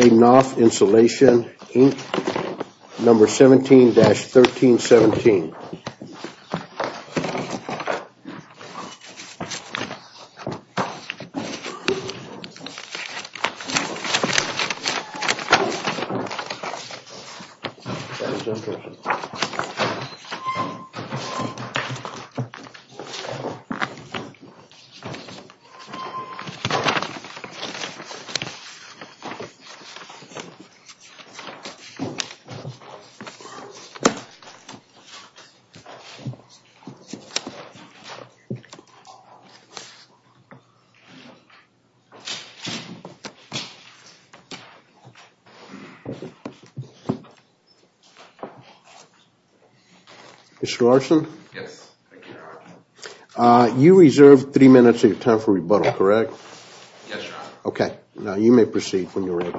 Number 17-1317. Mr. Larson, you reserved three minutes of your time for rebuttal, correct? Yes, sir. Okay, now you may proceed when you're ready.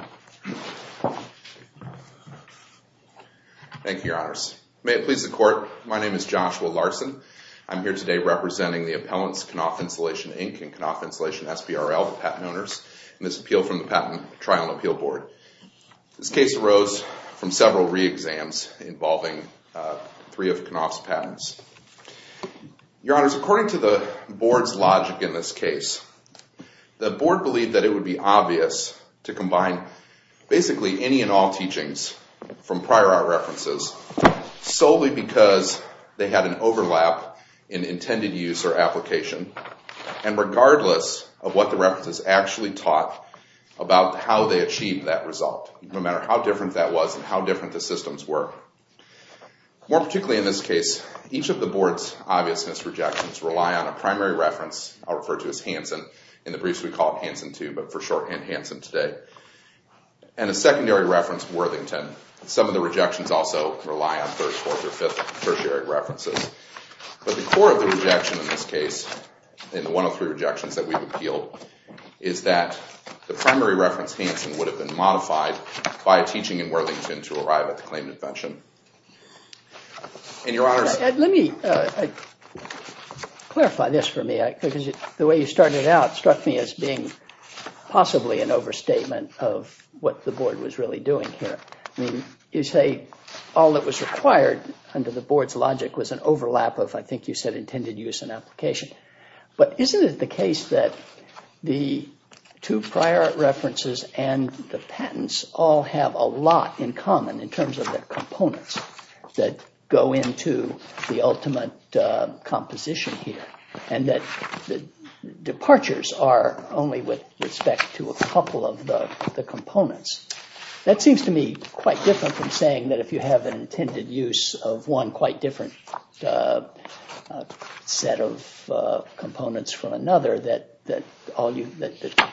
Thank you, Your Honors. May it please the Court, my name is Joshua Larson. I'm here today representing the appellants Knauf Insulation, Inc. and Knauf Insulation SBRL, the patent owners, in this appeal from the Patent Trial and Appeal Board. This case arose from several re-exams involving three of Knauf's patents. Your Honors, according to the Board's logic in this case, the Board believed that it would be obvious to combine basically any and all teachings from prior art references solely because they had an overlap in intended use or application, and regardless of what the references actually taught about how they achieved that result, no matter how different that was and how different the systems were. More particularly in this case, each of the Board's obviousness rejections rely on a primary reference, I'll refer to as Hansen, in the briefs we call it Hansen II, but for shorthand Hansen today, and a secondary reference, Worthington. Some of the rejections also rely on first, fourth, or fifth tertiary references. But the core of the rejection in this case, in the 103 rejections that we've appealed, is that the primary reference, Hansen, would have been modified by a teaching in Worthington to arrive at the claimed invention. And Your Honors... Let me clarify this for me, because the way you started out struck me as being possibly an overstatement of what the Board was really doing here. You say all that was required under the Board's logic was an overlap of, I think you said, intended use and application. But isn't it the case that the two prior art references and the patents all have a lot in common in terms of their components that go into the ultimate composition here? And that departures are only with respect to a couple of the components. That seems to me quite different from saying that if you have an intended use of one quite different set of components from another, that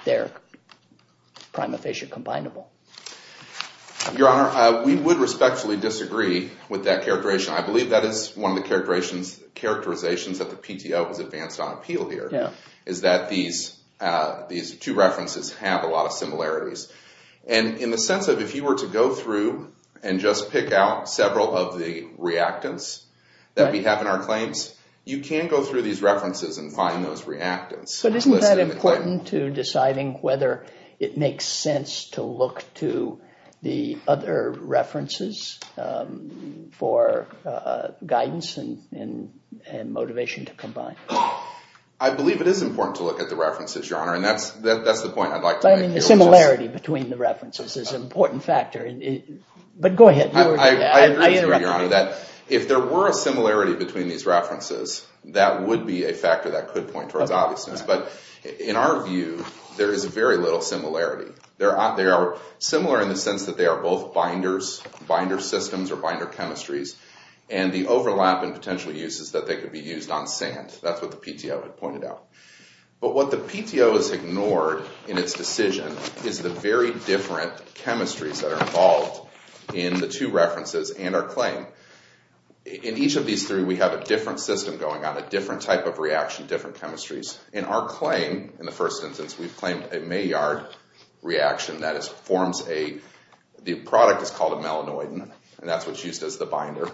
they're prima facie combinable. Your Honor, we would respectfully disagree with that characterization. I believe that is one of the characterizations that the PTO has advanced on appeal here, is that these two references have a lot of similarities. And in the sense of if you were to go through and just pick out several of the reactants that we have in our claims, you can go through these references and find those reactants. But isn't that important to deciding whether it makes sense to look to the other references for guidance and motivation to combine? I believe it is important to look at the references, Your Honor, and that's the point I'd like to make. But I mean, the similarity between the references is an important factor. But go ahead. I agree with you, Your Honor, that if there were a similarity between these references, that would be a factor that could point towards obviousness. But in our view, there is very little similarity. They are similar in the sense that they are both binder systems or binder chemistries, and the overlap in potential uses that they could be used on sand. That's what the PTO had pointed out. But what the PTO has ignored in its decision is the very different chemistries that are involved in the two references and our claim. In each of these three, we have a different system going on, a different type of reaction, different chemistries. In our claim, in the first instance, we've claimed a Maillard reaction. That is, the product is called a melanoidin, and that's what's used as the binder.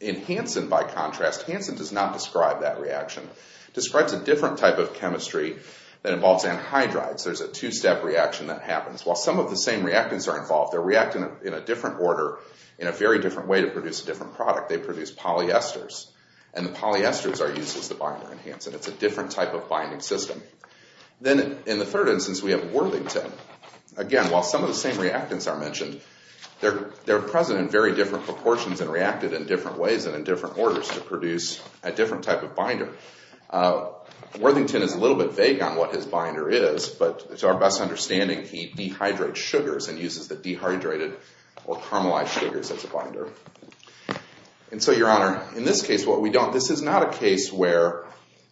In Hansen, by contrast, Hansen does not describe that reaction. It describes a different type of chemistry that involves anhydrides. There's a two-step reaction that happens. While some of the same reactants are involved, they're reacting in a different order in a very different way to produce a different product. They produce polyesters, and the polyesters are used as the binder in Hansen. It's a different type of binding system. Then in the third instance, we have Worthington. Again, while some of the same reactants are mentioned, they're present in very different proportions and reacted in different ways and in different orders to produce a different type of binder. Worthington is a little bit vague on what his binder is, but to our best understanding, he dehydrates sugars and uses the dehydrated or caramelized sugars as a binder. And so, Your Honor, in this case, what we don't—this is not a case where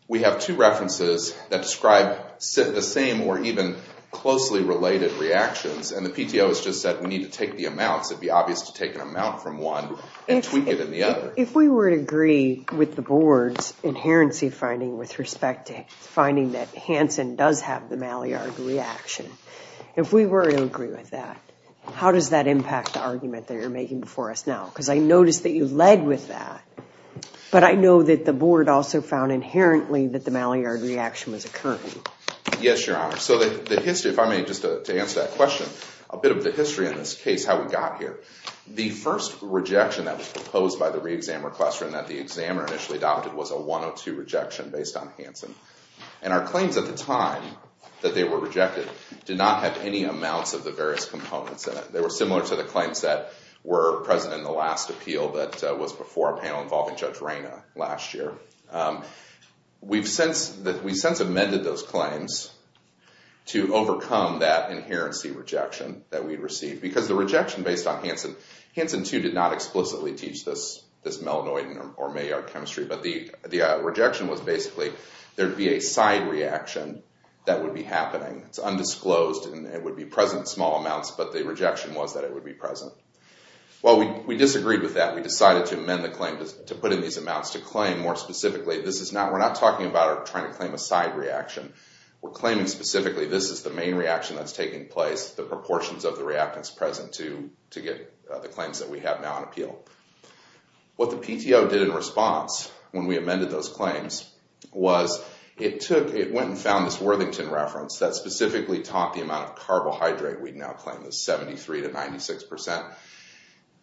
we have two references that describe the same or even closely related reactions, and the PTO has just said we need to take the amounts. It would be obvious to take an amount from one and tweak it in the other. If we were to agree with the board's inherency finding with respect to finding that Hansen does have the Maillard reaction, if we were to agree with that, how does that impact the argument that you're making before us now? Because I noticed that you led with that, but I know that the board also found inherently that the Maillard reaction was occurring. Yes, Your Honor. So the history—if I may, just to answer that question, a bit of the history in this case, how we got here. The first rejection that was proposed by the re-examiner classroom that the examiner initially adopted was a 102 rejection based on Hansen. And our claims at the time that they were rejected did not have any amounts of the various components in it. They were similar to the claims that were present in the last appeal that was before a panel involving Judge Reyna last year. We've since amended those claims to overcome that inherency rejection that we received, because the rejection based on Hansen—Hansen, too, did not explicitly teach this Melanoid or Maillard chemistry, but the rejection was basically there would be a side reaction that would be happening. It's undisclosed, and it would be present in small amounts, but the rejection was that it would be present. Well, we disagreed with that. We decided to amend the claim to put in these amounts to claim more specifically— this is not—we're not talking about trying to claim a side reaction. We're claiming specifically this is the main reaction that's taking place, the proportions of the reactants present to get the claims that we have now on appeal. What the PTO did in response, when we amended those claims, was it took—it went and found this Worthington reference that specifically taught the amount of carbohydrate we now claim, the 73 to 96 percent,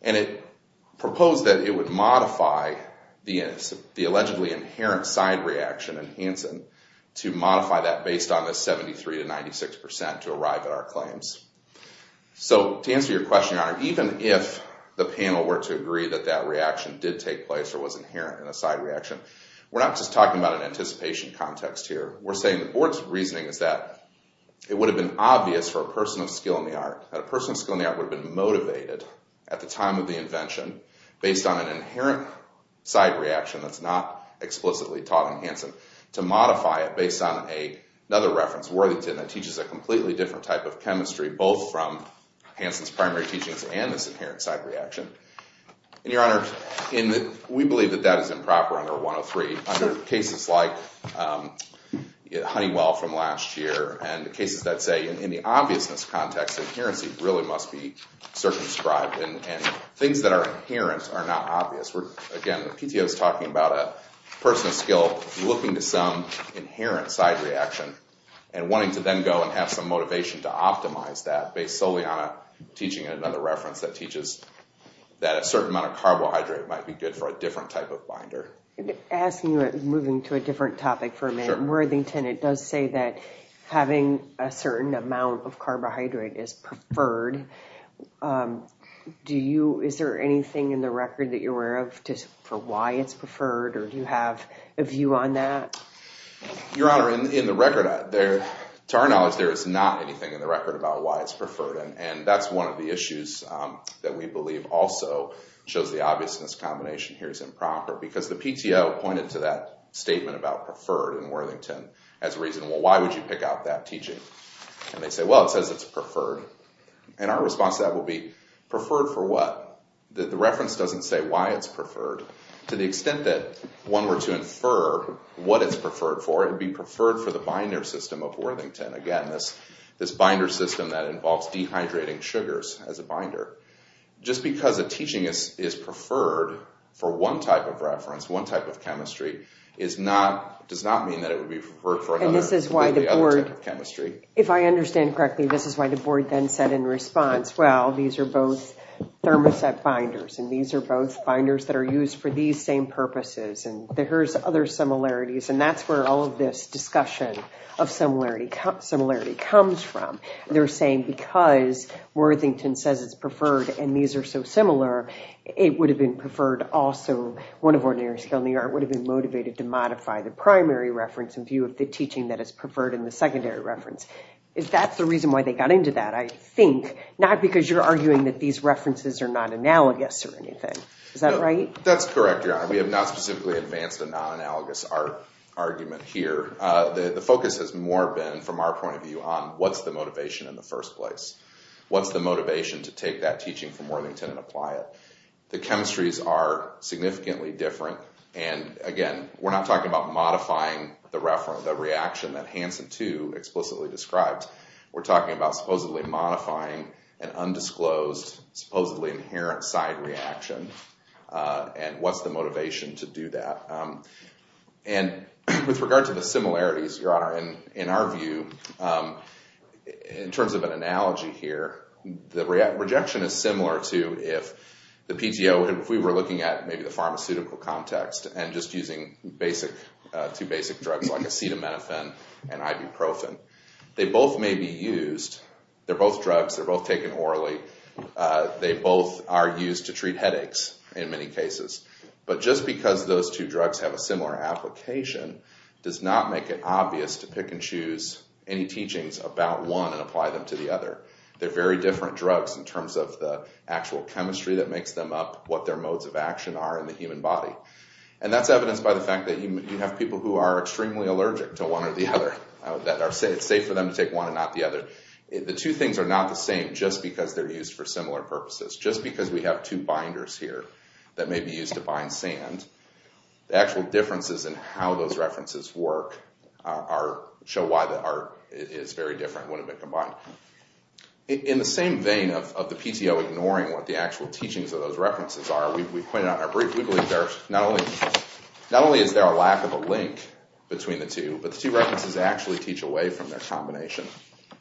and it proposed that it would modify the allegedly inherent side reaction in Hansen to modify that based on the 73 to 96 percent to arrive at our claims. So to answer your question, Your Honor, even if the panel were to agree that that reaction did take place or was inherent in a side reaction, we're not just talking about an anticipation context here. We're saying the board's reasoning is that it would have been obvious for a person of skill in the art, that a person of skill in the art would have been motivated at the time of the invention based on an inherent side reaction that's not explicitly taught in Hansen to modify it based on another reference, Worthington, that teaches a completely different type of chemistry, both from Hansen's primary teachings and this inherent side reaction. And, Your Honor, we believe that that is improper under 103, under cases like Honeywell from last year and cases that say in the obviousness context, adherency really must be circumscribed and things that are inherent are not obvious. Again, the PTO is talking about a person of skill looking to some inherent side reaction and wanting to then go and have some motivation to optimize that based solely on a teaching and another reference that teaches that a certain amount of carbohydrate might be good for a different type of binder. Asking you, moving to a different topic for a minute, Worthington, it does say that having a certain amount of carbohydrate is preferred. Is there anything in the record that you're aware of for why it's preferred or do you have a view on that? Your Honor, in the record, to our knowledge, there is not anything in the record about why it's preferred and that's one of the issues that we believe also shows the obviousness combination here is improper because the PTO pointed to that statement about preferred in Worthington as reasonable. Why would you pick out that teaching? And they say, well, it says it's preferred. And our response to that would be, preferred for what? The reference doesn't say why it's preferred. To the extent that one were to infer what it's preferred for, it would be preferred for the binder system of Worthington. Again, this binder system that involves dehydrating sugars as a binder. Just because a teaching is preferred for one type of reference, one type of chemistry, does not mean that it would be preferred for another type of chemistry. If I understand correctly, this is why the board then said in response, well, these are both thermoset binders and these are both binders that are used for these same purposes and there's other similarities and that's where all of this discussion of similarity comes from. They're saying because Worthington says it's preferred and these are so similar, it would have been preferred also. One of ordinary skill in the art would have been motivated to modify the primary reference in view of the teaching that is preferred in the secondary reference. If that's the reason why they got into that, I think, not because you're arguing that these references are not analogous or anything. Is that right? That's correct, Your Honor. We have not specifically advanced a non-analogous art argument here. The focus has more been, from our point of view, on what's the motivation in the first place. What's the motivation to take that teaching from Worthington and apply it? The chemistries are significantly different. Again, we're not talking about modifying the reaction that Hansen 2 explicitly described. We're talking about supposedly modifying an undisclosed, supposedly inherent side reaction and what's the motivation to do that. With regard to the similarities, Your Honor, in our view, in terms of an analogy here, the rejection is similar to if we were looking at maybe the pharmaceutical context and just using two basic drugs like acetaminophen and ibuprofen. They both may be used. They're both drugs. They're both taken orally. They both are used to treat headaches in many cases. But just because those two drugs have a similar application does not make it obvious to pick and choose any teachings about one and apply them to the other. They're very different drugs in terms of the actual chemistry that makes them up, what their modes of action are in the human body. And that's evidenced by the fact that you have people who are extremely allergic to one or the other, that it's safe for them to take one and not the other. The two things are not the same just because they're used for similar purposes. Just because we have two binders here that may be used to bind sand, the actual differences in how those references work show why the art is very different when they've been combined. In the same vein of the PTO ignoring what the actual teachings of those references are, we've pointed out briefly that not only is there a lack of a link between the two, but the two references actually teach away from their combination.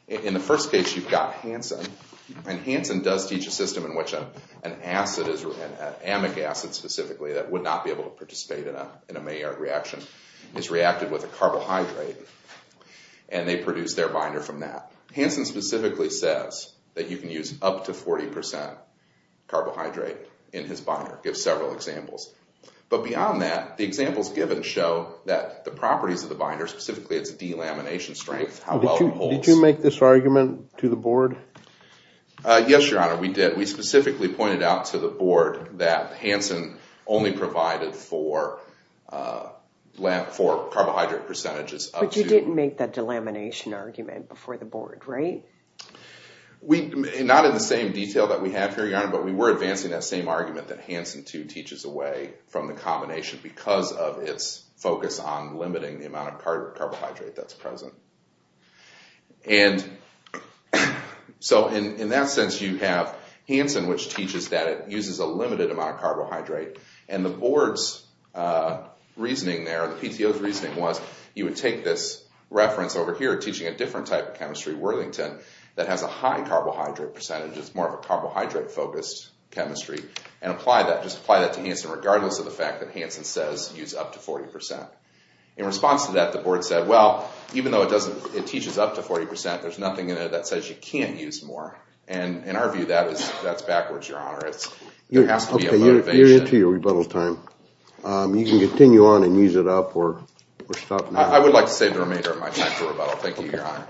In the first case, you've got Hansen, and Hansen does teach a system in which an acid, an amic acid specifically, that would not be able to participate in a Maillard reaction, is reacted with a carbohydrate and they produce their binder from that. Hansen specifically says that you can use up to 40% carbohydrate in his binder, gives several examples. But beyond that, the examples given show that the properties of the binder, specifically its delamination strength, how well it holds. Did you make this argument to the board? Yes, Your Honor, we did. We specifically pointed out to the board that Hansen only provided for carbohydrate percentages. But you didn't make that delamination argument before the board, right? Not in the same detail that we have here, Your Honor, but we were advancing that same argument that Hansen too teaches away from the combination because of its focus on limiting the amount of carbohydrate that's present. And so in that sense you have Hansen, which teaches that it uses a limited amount of carbohydrate, and the board's reasoning there, the PTO's reasoning was, you would take this reference over here teaching a different type of chemistry, Worthington, that has a high carbohydrate percentage, it's more of a carbohydrate-focused chemistry, and apply that, just apply that to Hansen regardless of the fact that Hansen says use up to 40%. In response to that, the board said, well, even though it teaches up to 40%, there's nothing in it that says you can't use more. And in our view, that's backwards, Your Honor. There has to be a motivation. You're into your rebuttal time. You can continue on and use it up or stop now. I would like to save the remainder of my time for rebuttal. Thank you, Your Honor.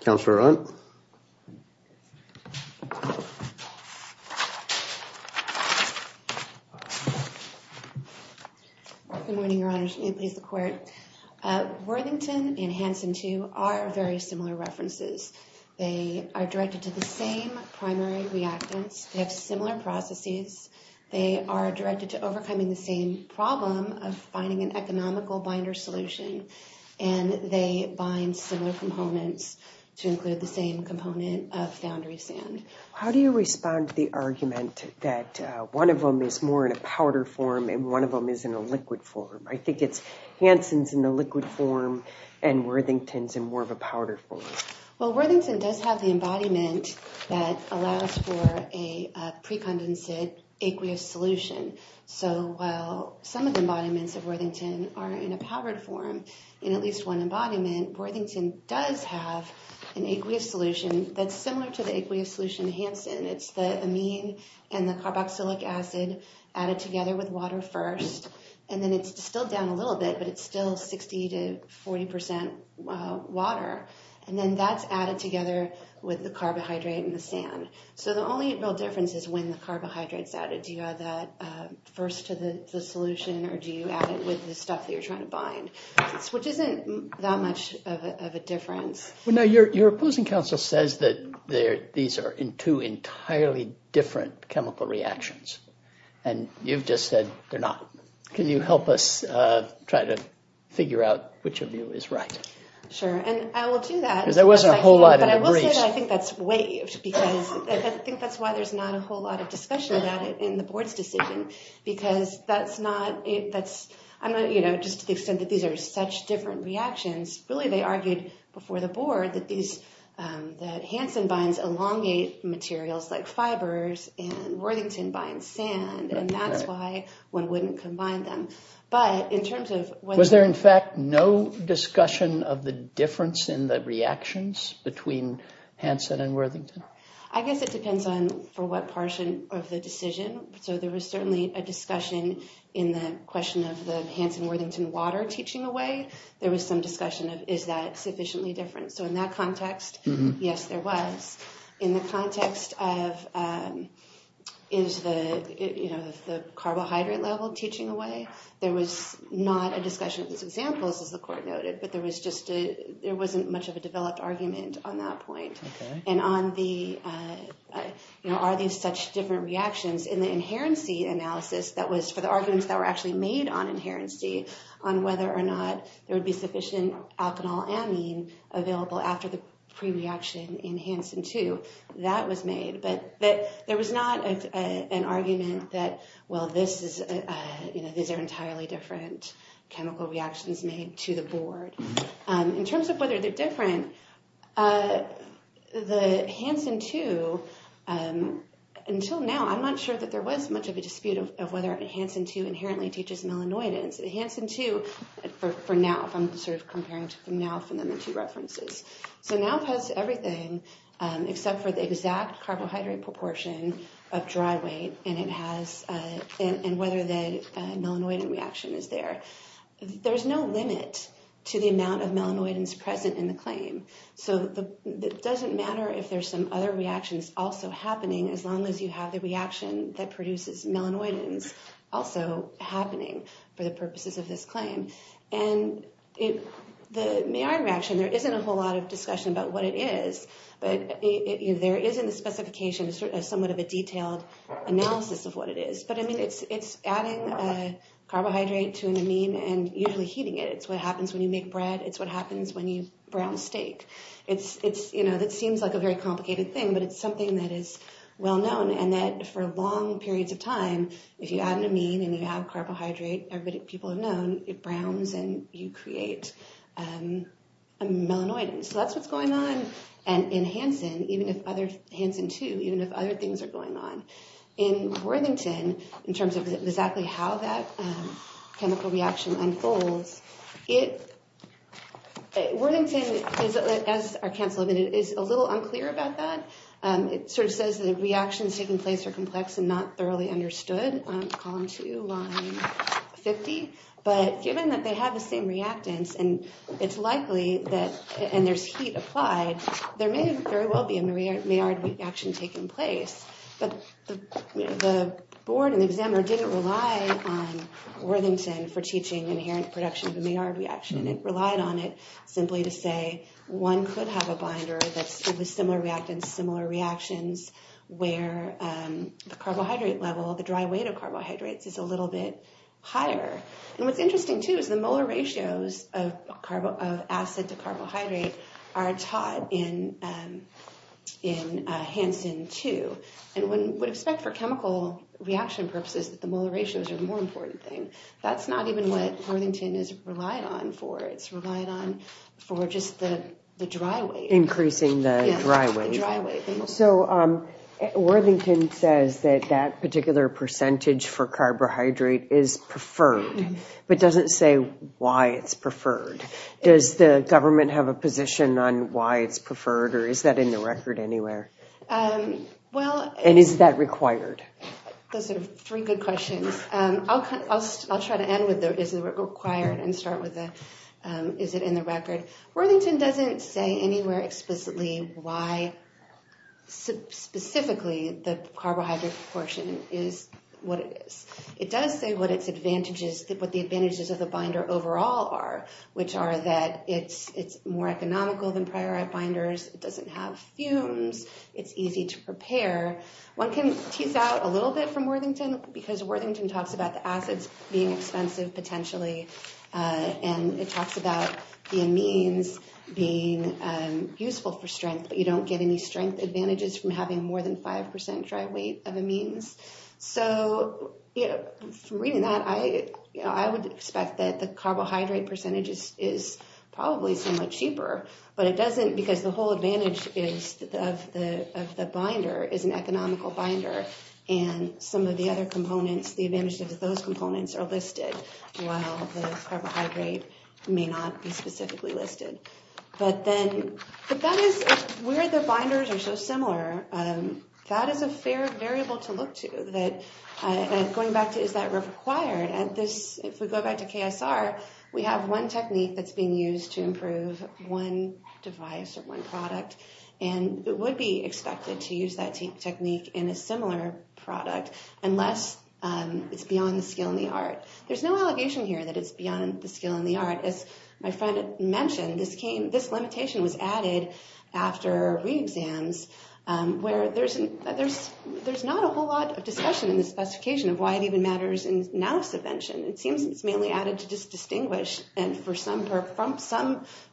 Counselor Hunt? Good morning, Your Honor. Please, the Court. Worthington and Hansen, too, are very similar references. They are directed to the same primary reactants. They have similar processes. They are directed to overcoming the same problem of finding an economical binder solution, and they bind similar components to include the same component of foundry sand. How do you respond to the argument that one of them is more in a powder form and one of them is in a liquid form? I think it's Hansen's in a liquid form and Worthington's in more of a powder form. Well, Worthington does have the embodiment that allows for a precondensate aqueous solution. So while some of the embodiments of Worthington are in a powder form, in at least one embodiment, Worthington does have an aqueous solution that's similar to the aqueous solution Hansen. It's the amine and the carboxylic acid added together with water first, and then it's still down a little bit, but it's still 60 to 40 percent water, and then that's added together with the carbohydrate and the sand. So the only real difference is when the carbohydrate's added. Do you add that first to the solution, or do you add it with the stuff that you're trying to bind, which isn't that much of a difference. Your opposing counsel says that these are two entirely different chemical reactions, and you've just said they're not. Can you help us try to figure out which of you is right? Sure, and I will do that. Because there wasn't a whole lot in the briefs. But I will say that I think that's waived, because I think that's why there's not a whole lot of discussion about it in the board's decision, because that's not – just to the extent that these are such different reactions, really they argued before the board that Hansen binds elongate materials like fibers, and Worthington binds sand, and that's why one wouldn't combine them. But in terms of whether – Was there in fact no discussion of the difference in the reactions between Hansen and Worthington? I guess it depends on for what portion of the decision. So there was certainly a discussion in the question of the Hansen-Worthington water teaching away. There was some discussion of is that sufficiently different. So in that context, yes, there was. In the context of is the carbohydrate level teaching away, there was not a discussion of those examples, as the court noted, but there was just – there wasn't much of a developed argument on that point. And on the – are these such different reactions, in the inherency analysis that was – for the arguments that were actually made on inherency, on whether or not there would be sufficient alkanol amine available after the pre-reaction in Hansen-2, that was made, but there was not an argument that, well, this is – these are entirely different chemical reactions made to the board. In terms of whether they're different, the Hansen-2, until now, I'm not sure that there was much of a dispute of whether Hansen-2 inherently teaches melanoidins. Hansen-2, for NAWF, I'm sort of comparing to NAWF and then the two references. So NAWF has everything except for the exact carbohydrate proportion of dry weight, and it has – and whether the melanoidin reaction is there. There's no limit to the amount of melanoidins present in the claim. So it doesn't matter if there's some other reactions also happening, as long as you have the reaction that produces melanoidins also happening for the purposes of this claim. And the may-iron reaction, there isn't a whole lot of discussion about what it is, but there is in the specifications somewhat of a detailed analysis of what it is. But, I mean, it's adding a carbohydrate to an amine and usually heating it. It's what happens when you make bread. It's what happens when you brown steak. It seems like a very complicated thing, but it's something that is well-known, and that for long periods of time, if you add an amine and you add carbohydrate, everybody – people have known, it browns and you create a melanoidin. So that's what's going on in Hansen, even if other – Hansen-2, even if other things are going on. In Worthington, in terms of exactly how that chemical reaction unfolds, Worthington, as our council admitted, is a little unclear about that. It sort of says the reactions taking place are complex and not thoroughly understood, column 2, line 50. But given that they have the same reactants and it's likely that – and there's heat applied, there may very well be a may-iron reaction taking place. But the board and the examiner didn't rely on Worthington for teaching inherent production of a may-iron reaction. It relied on it simply to say one could have a binder that's – with similar reactants, similar reactions, where the carbohydrate level, the dry weight of carbohydrates is a little bit higher. And what's interesting, too, is the molar ratios of acid to carbohydrate are taught in Hansen-2. And one would expect for chemical reaction purposes that the molar ratios are the more important thing. That's not even what Worthington is relied on for. It's relied on for just the dry weight. Increasing the dry weight. The dry weight. So Worthington says that that particular percentage for carbohydrate is preferred, but doesn't say why it's preferred. Does the government have a position on why it's preferred, or is that in the record anywhere? And is that required? Those are three good questions. I'll try to end with is it required and start with is it in the record. Worthington doesn't say anywhere explicitly why specifically the carbohydrate proportion is what it is. It does say what the advantages of the binder overall are, which are that it's more economical than priorite binders. It doesn't have fumes. It's easy to prepare. One can tease out a little bit from Worthington because Worthington talks about the acids being expensive potentially, and it talks about the amines being useful for strength, but you don't get any strength advantages from having more than 5% dry weight of amines. So from reading that, I would expect that the carbohydrate percentage is probably somewhat cheaper, but it doesn't because the whole advantage of the binder is an economical binder, and some of the other components, the advantages of those components are listed, while the carbohydrate may not be specifically listed. But where the binders are so similar, that is a fair variable to look to. Going back to is that required, if we go back to KSR, we have one technique that's being used to improve one device or one product, and it would be expected to use that technique in a similar product unless it's beyond the skill and the art. There's no allegation here that it's beyond the skill and the art. As my friend mentioned, this limitation was added after re-exams, where there's not a whole lot of discussion in the specification of why it even matters in now subvention. It seems it's mainly added to distinguish, and for some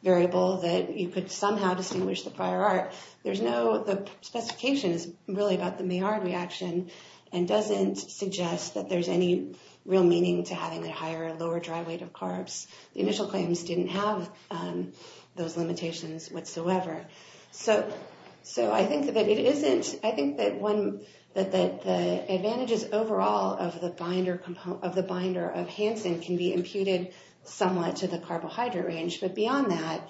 variable that you could somehow distinguish the prior art. The specification is really about the Maillard reaction, and doesn't suggest that there's any real meaning to having a higher or lower dry weight of carbs. The initial claims didn't have those limitations whatsoever. So I think that the advantages overall of the binder of Hansen can be imputed somewhat to the carbohydrate range, but beyond that,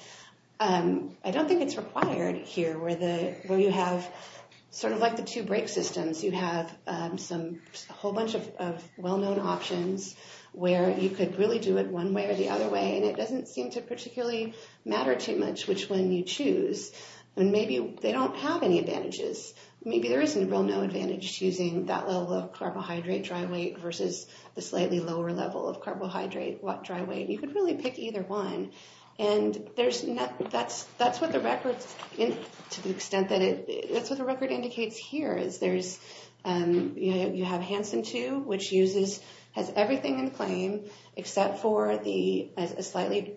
I don't think it's required here, where you have sort of like the two brake systems, you have a whole bunch of well-known options where you could really do it one way or the other way, and it doesn't seem to particularly matter too much which one you choose. Maybe they don't have any advantages. Maybe there isn't a real known advantage to using that level of carbohydrate dry weight versus the slightly lower level of carbohydrate dry weight. You could really pick either one, and that's what the record indicates here. You have Hansen 2, which has everything in claim except for the slightly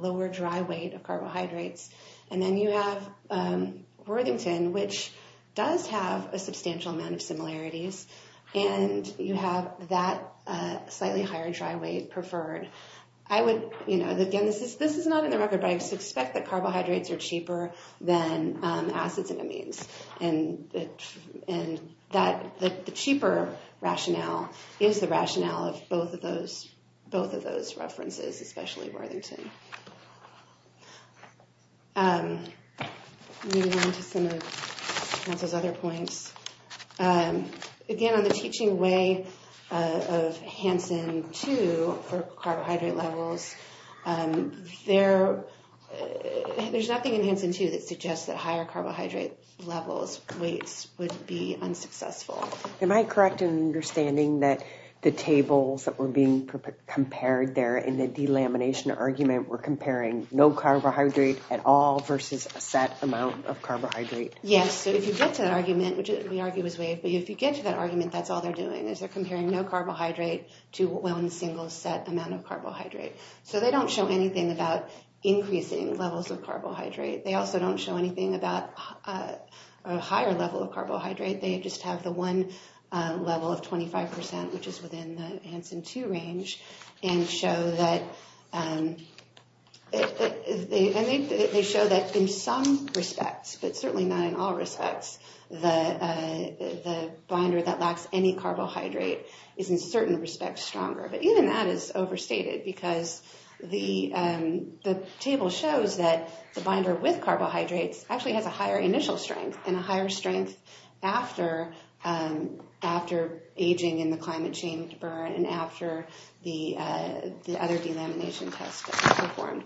lower dry weight of carbohydrates, and then you have Worthington, which does have a substantial amount of similarities, and you have that slightly higher dry weight preferred. Again, this is not in the record, but I suspect that carbohydrates are cheaper than acids and amines, and that the cheaper rationale is the rationale of both of those references, especially Worthington. Moving on to some of Hansen's other points. Again, on the teaching way of Hansen 2 for carbohydrate levels, there's nothing in Hansen 2 that suggests that higher carbohydrate levels weights would be unsuccessful. Am I correct in understanding that the tables that were being compared there in the delamination argument were comparing no carbohydrate at all versus a set amount of carbohydrate? Yes, so if you get to that argument, which we argue was waived, but if you get to that argument, that's all they're doing, is they're comparing no carbohydrate to one single set amount of carbohydrate. So they don't show anything about increasing levels of carbohydrate. They also don't show anything about a higher level of carbohydrate. They just have the one level of 25%, which is within the Hansen 2 range, and they show that in some respects, but certainly not in all respects, the binder that lacks any carbohydrate is in certain respects stronger. But even that is overstated because the table shows that the binder with carbohydrates actually has a higher initial strength and a higher strength after aging in the climate change burn and after the other delamination tests performed.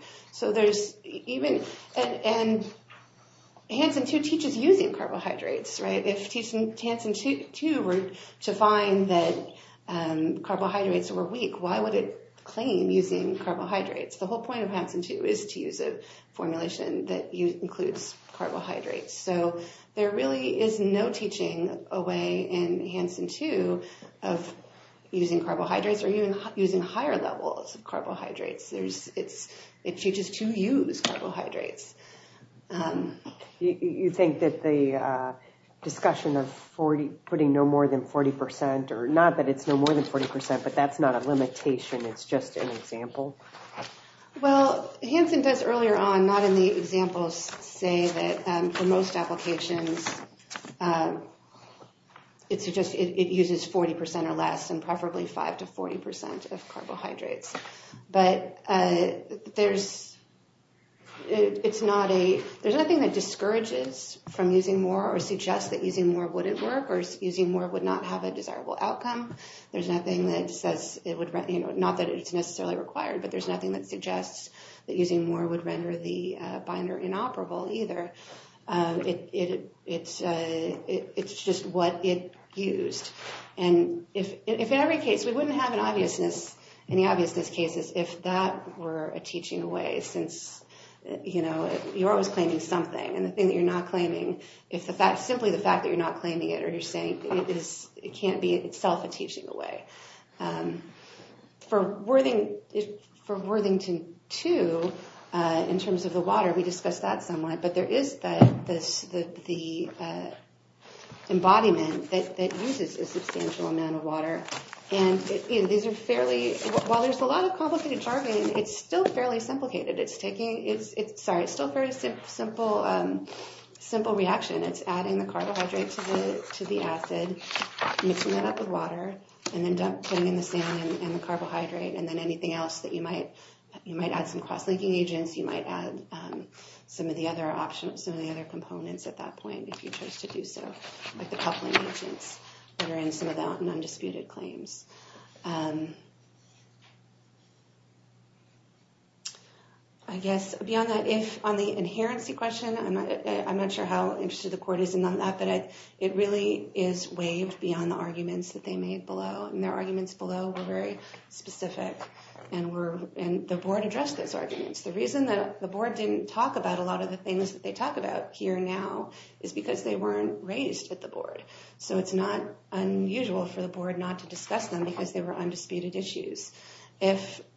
Hansen 2 teaches using carbohydrates. If Hansen 2 were to find that carbohydrates were weak, why would it claim using carbohydrates? The whole point of Hansen 2 is to use a formulation that includes carbohydrates. So there really is no teaching away in Hansen 2 of using carbohydrates or even using higher levels of carbohydrates. It teaches to use carbohydrates. You think that the discussion of putting no more than 40% or not that it's no more than 40%, but that's not a limitation, it's just an example? Well, Hansen does earlier on, not in the examples, say that for most applications, it uses 40% or less and preferably 5% to 40% of carbohydrates. But there's nothing that discourages from using more or suggests that using more wouldn't work or using more would not have a desirable outcome. Not that it's necessarily required, but there's nothing that suggests that using more would render the binder inoperable either. It's just what it used. We wouldn't have any obviousness cases if that were a teaching away, since you're always claiming something. And the thing that you're not claiming is simply the fact that you're not claiming it or you're saying it can't be itself a teaching away. For Worthington 2, in terms of the water, we discussed that somewhat, but there is the embodiment that uses a substantial amount of water. And while there's a lot of complicated jargon, it's still fairly simplicated. It's still a very simple reaction. It's adding the carbohydrate to the acid, mixing that up with water, and then putting in the saline and the carbohydrate and then anything else that you might add. You might add some cross-linking agents. You might add some of the other components at that point if you chose to do so, like the coupling agents that are in some of the non-disputed claims. I guess beyond that, on the inherency question, I'm not sure how interested the court is in that, but it really is waived beyond the arguments that they made below. And their arguments below were very specific, and the board addressed those arguments. The reason that the board didn't talk about a lot of the things that they talk about here now is because they weren't raised at the board. So it's not unusual for the board not to discuss them because they were undisputed issues.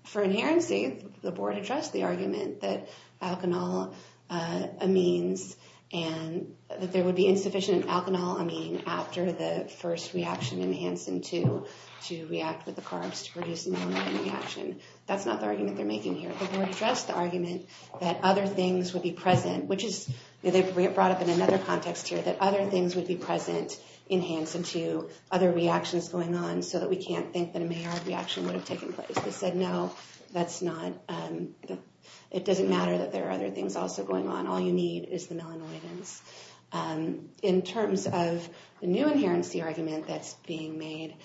For inherency, the board addressed the argument that alkanol amines and that there would be insufficient alkanol amine after the first reaction enhanced into to react with the carbs to produce a melanoid reaction. That's not the argument they're making here. The board addressed the argument that other things would be present, which they brought up in another context here, that other things would be present enhanced into other reactions going on so that we can't think that a Maillard reaction would have taken place. They said, no, it doesn't matter that there are other things also going on. All you need is the melanoidins. In terms of the new inherency argument that's being made,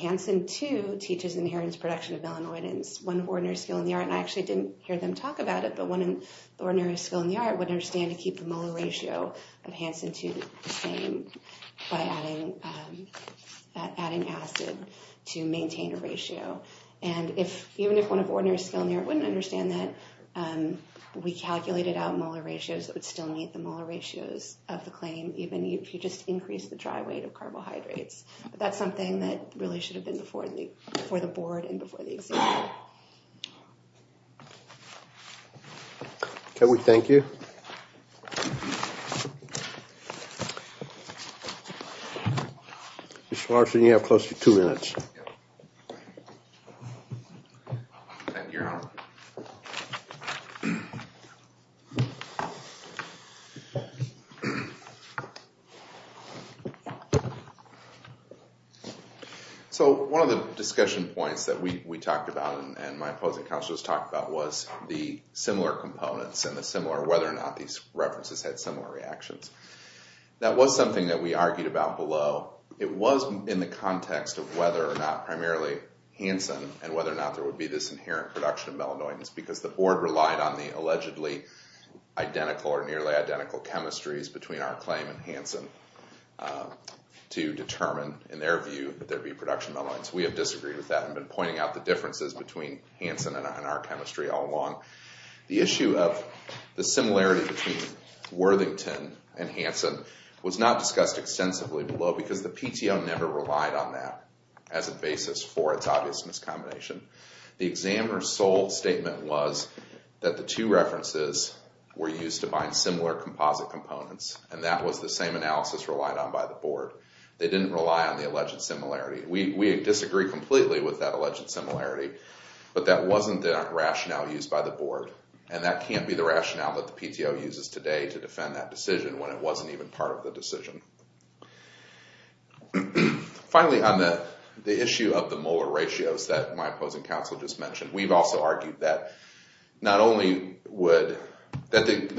Hansen 2 teaches inherence production of melanoidins. One of ordinary skill in the art, and I actually didn't hear them talk about it, but one of ordinary skill in the art wouldn't understand to keep the molar ratio of Hansen 2 the same by adding acid to maintain a ratio. And even if one of ordinary skill in the art wouldn't understand that, we calculated out molar ratios that would still meet the molar ratios of the claim even if you just increase the dry weight of carbohydrates. That's something that really should have been before the board and before the examiner. Can we thank you? Mr. Larson, you have close to two minutes. Thank you. So one of the discussion points that we talked about and my opposing counselors talked about was the similar components and whether or not these references had similar reactions. That was something that we argued about below. It was in the context of whether or not primarily Hansen and whether or not there would be this inherent production of melanoidins because the board relied on the allegedly identical or nearly identical chemistries between our claim and Hansen to determine, in their view, that there would be production of melanoidins. We have disagreed with that and been pointing out the differences between Hansen and our chemistry all along. The issue of the similarity between Worthington and Hansen was not discussed extensively below because the PTO never relied on that as a basis for its obvious miscombination. The examiner's sole statement was that the two references were used to bind similar composite components and that was the same analysis relied on by the board. They didn't rely on the alleged similarity. We disagree completely with that alleged similarity, but that wasn't the rationale used by the board and that can't be the rationale that the PTO uses today to defend that decision when it wasn't even part of the decision. Finally, on the issue of the molar ratios that my opposing counsel just mentioned, we've also argued that the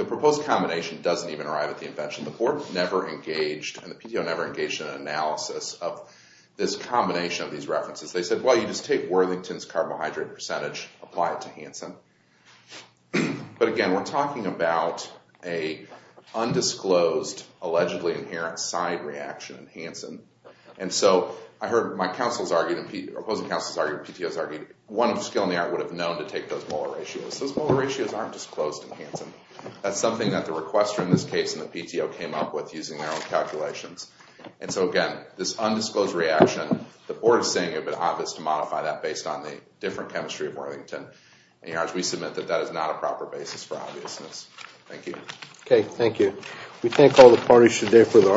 proposed combination doesn't even arrive at the invention. The board never engaged, and the PTO never engaged, in an analysis of this combination of these references. They said, well, you just take Worthington's carbohydrate percentage, apply it to Hansen. But again, we're talking about an undisclosed, allegedly inherent side reaction in Hansen. And so I heard my counsel's argument, opposing counsel's argument, PTO's argument, one of the skill in the art would have known to take those molar ratios. Those molar ratios aren't disclosed in Hansen. That's something that the requester in this case and the PTO came up with using their own calculations. And so again, this undisclosed reaction, the board is saying it would be obvious to modify that based on the different chemistry of Worthington. We submit that that is not a proper basis for obviousness. Thank you. Okay, thank you.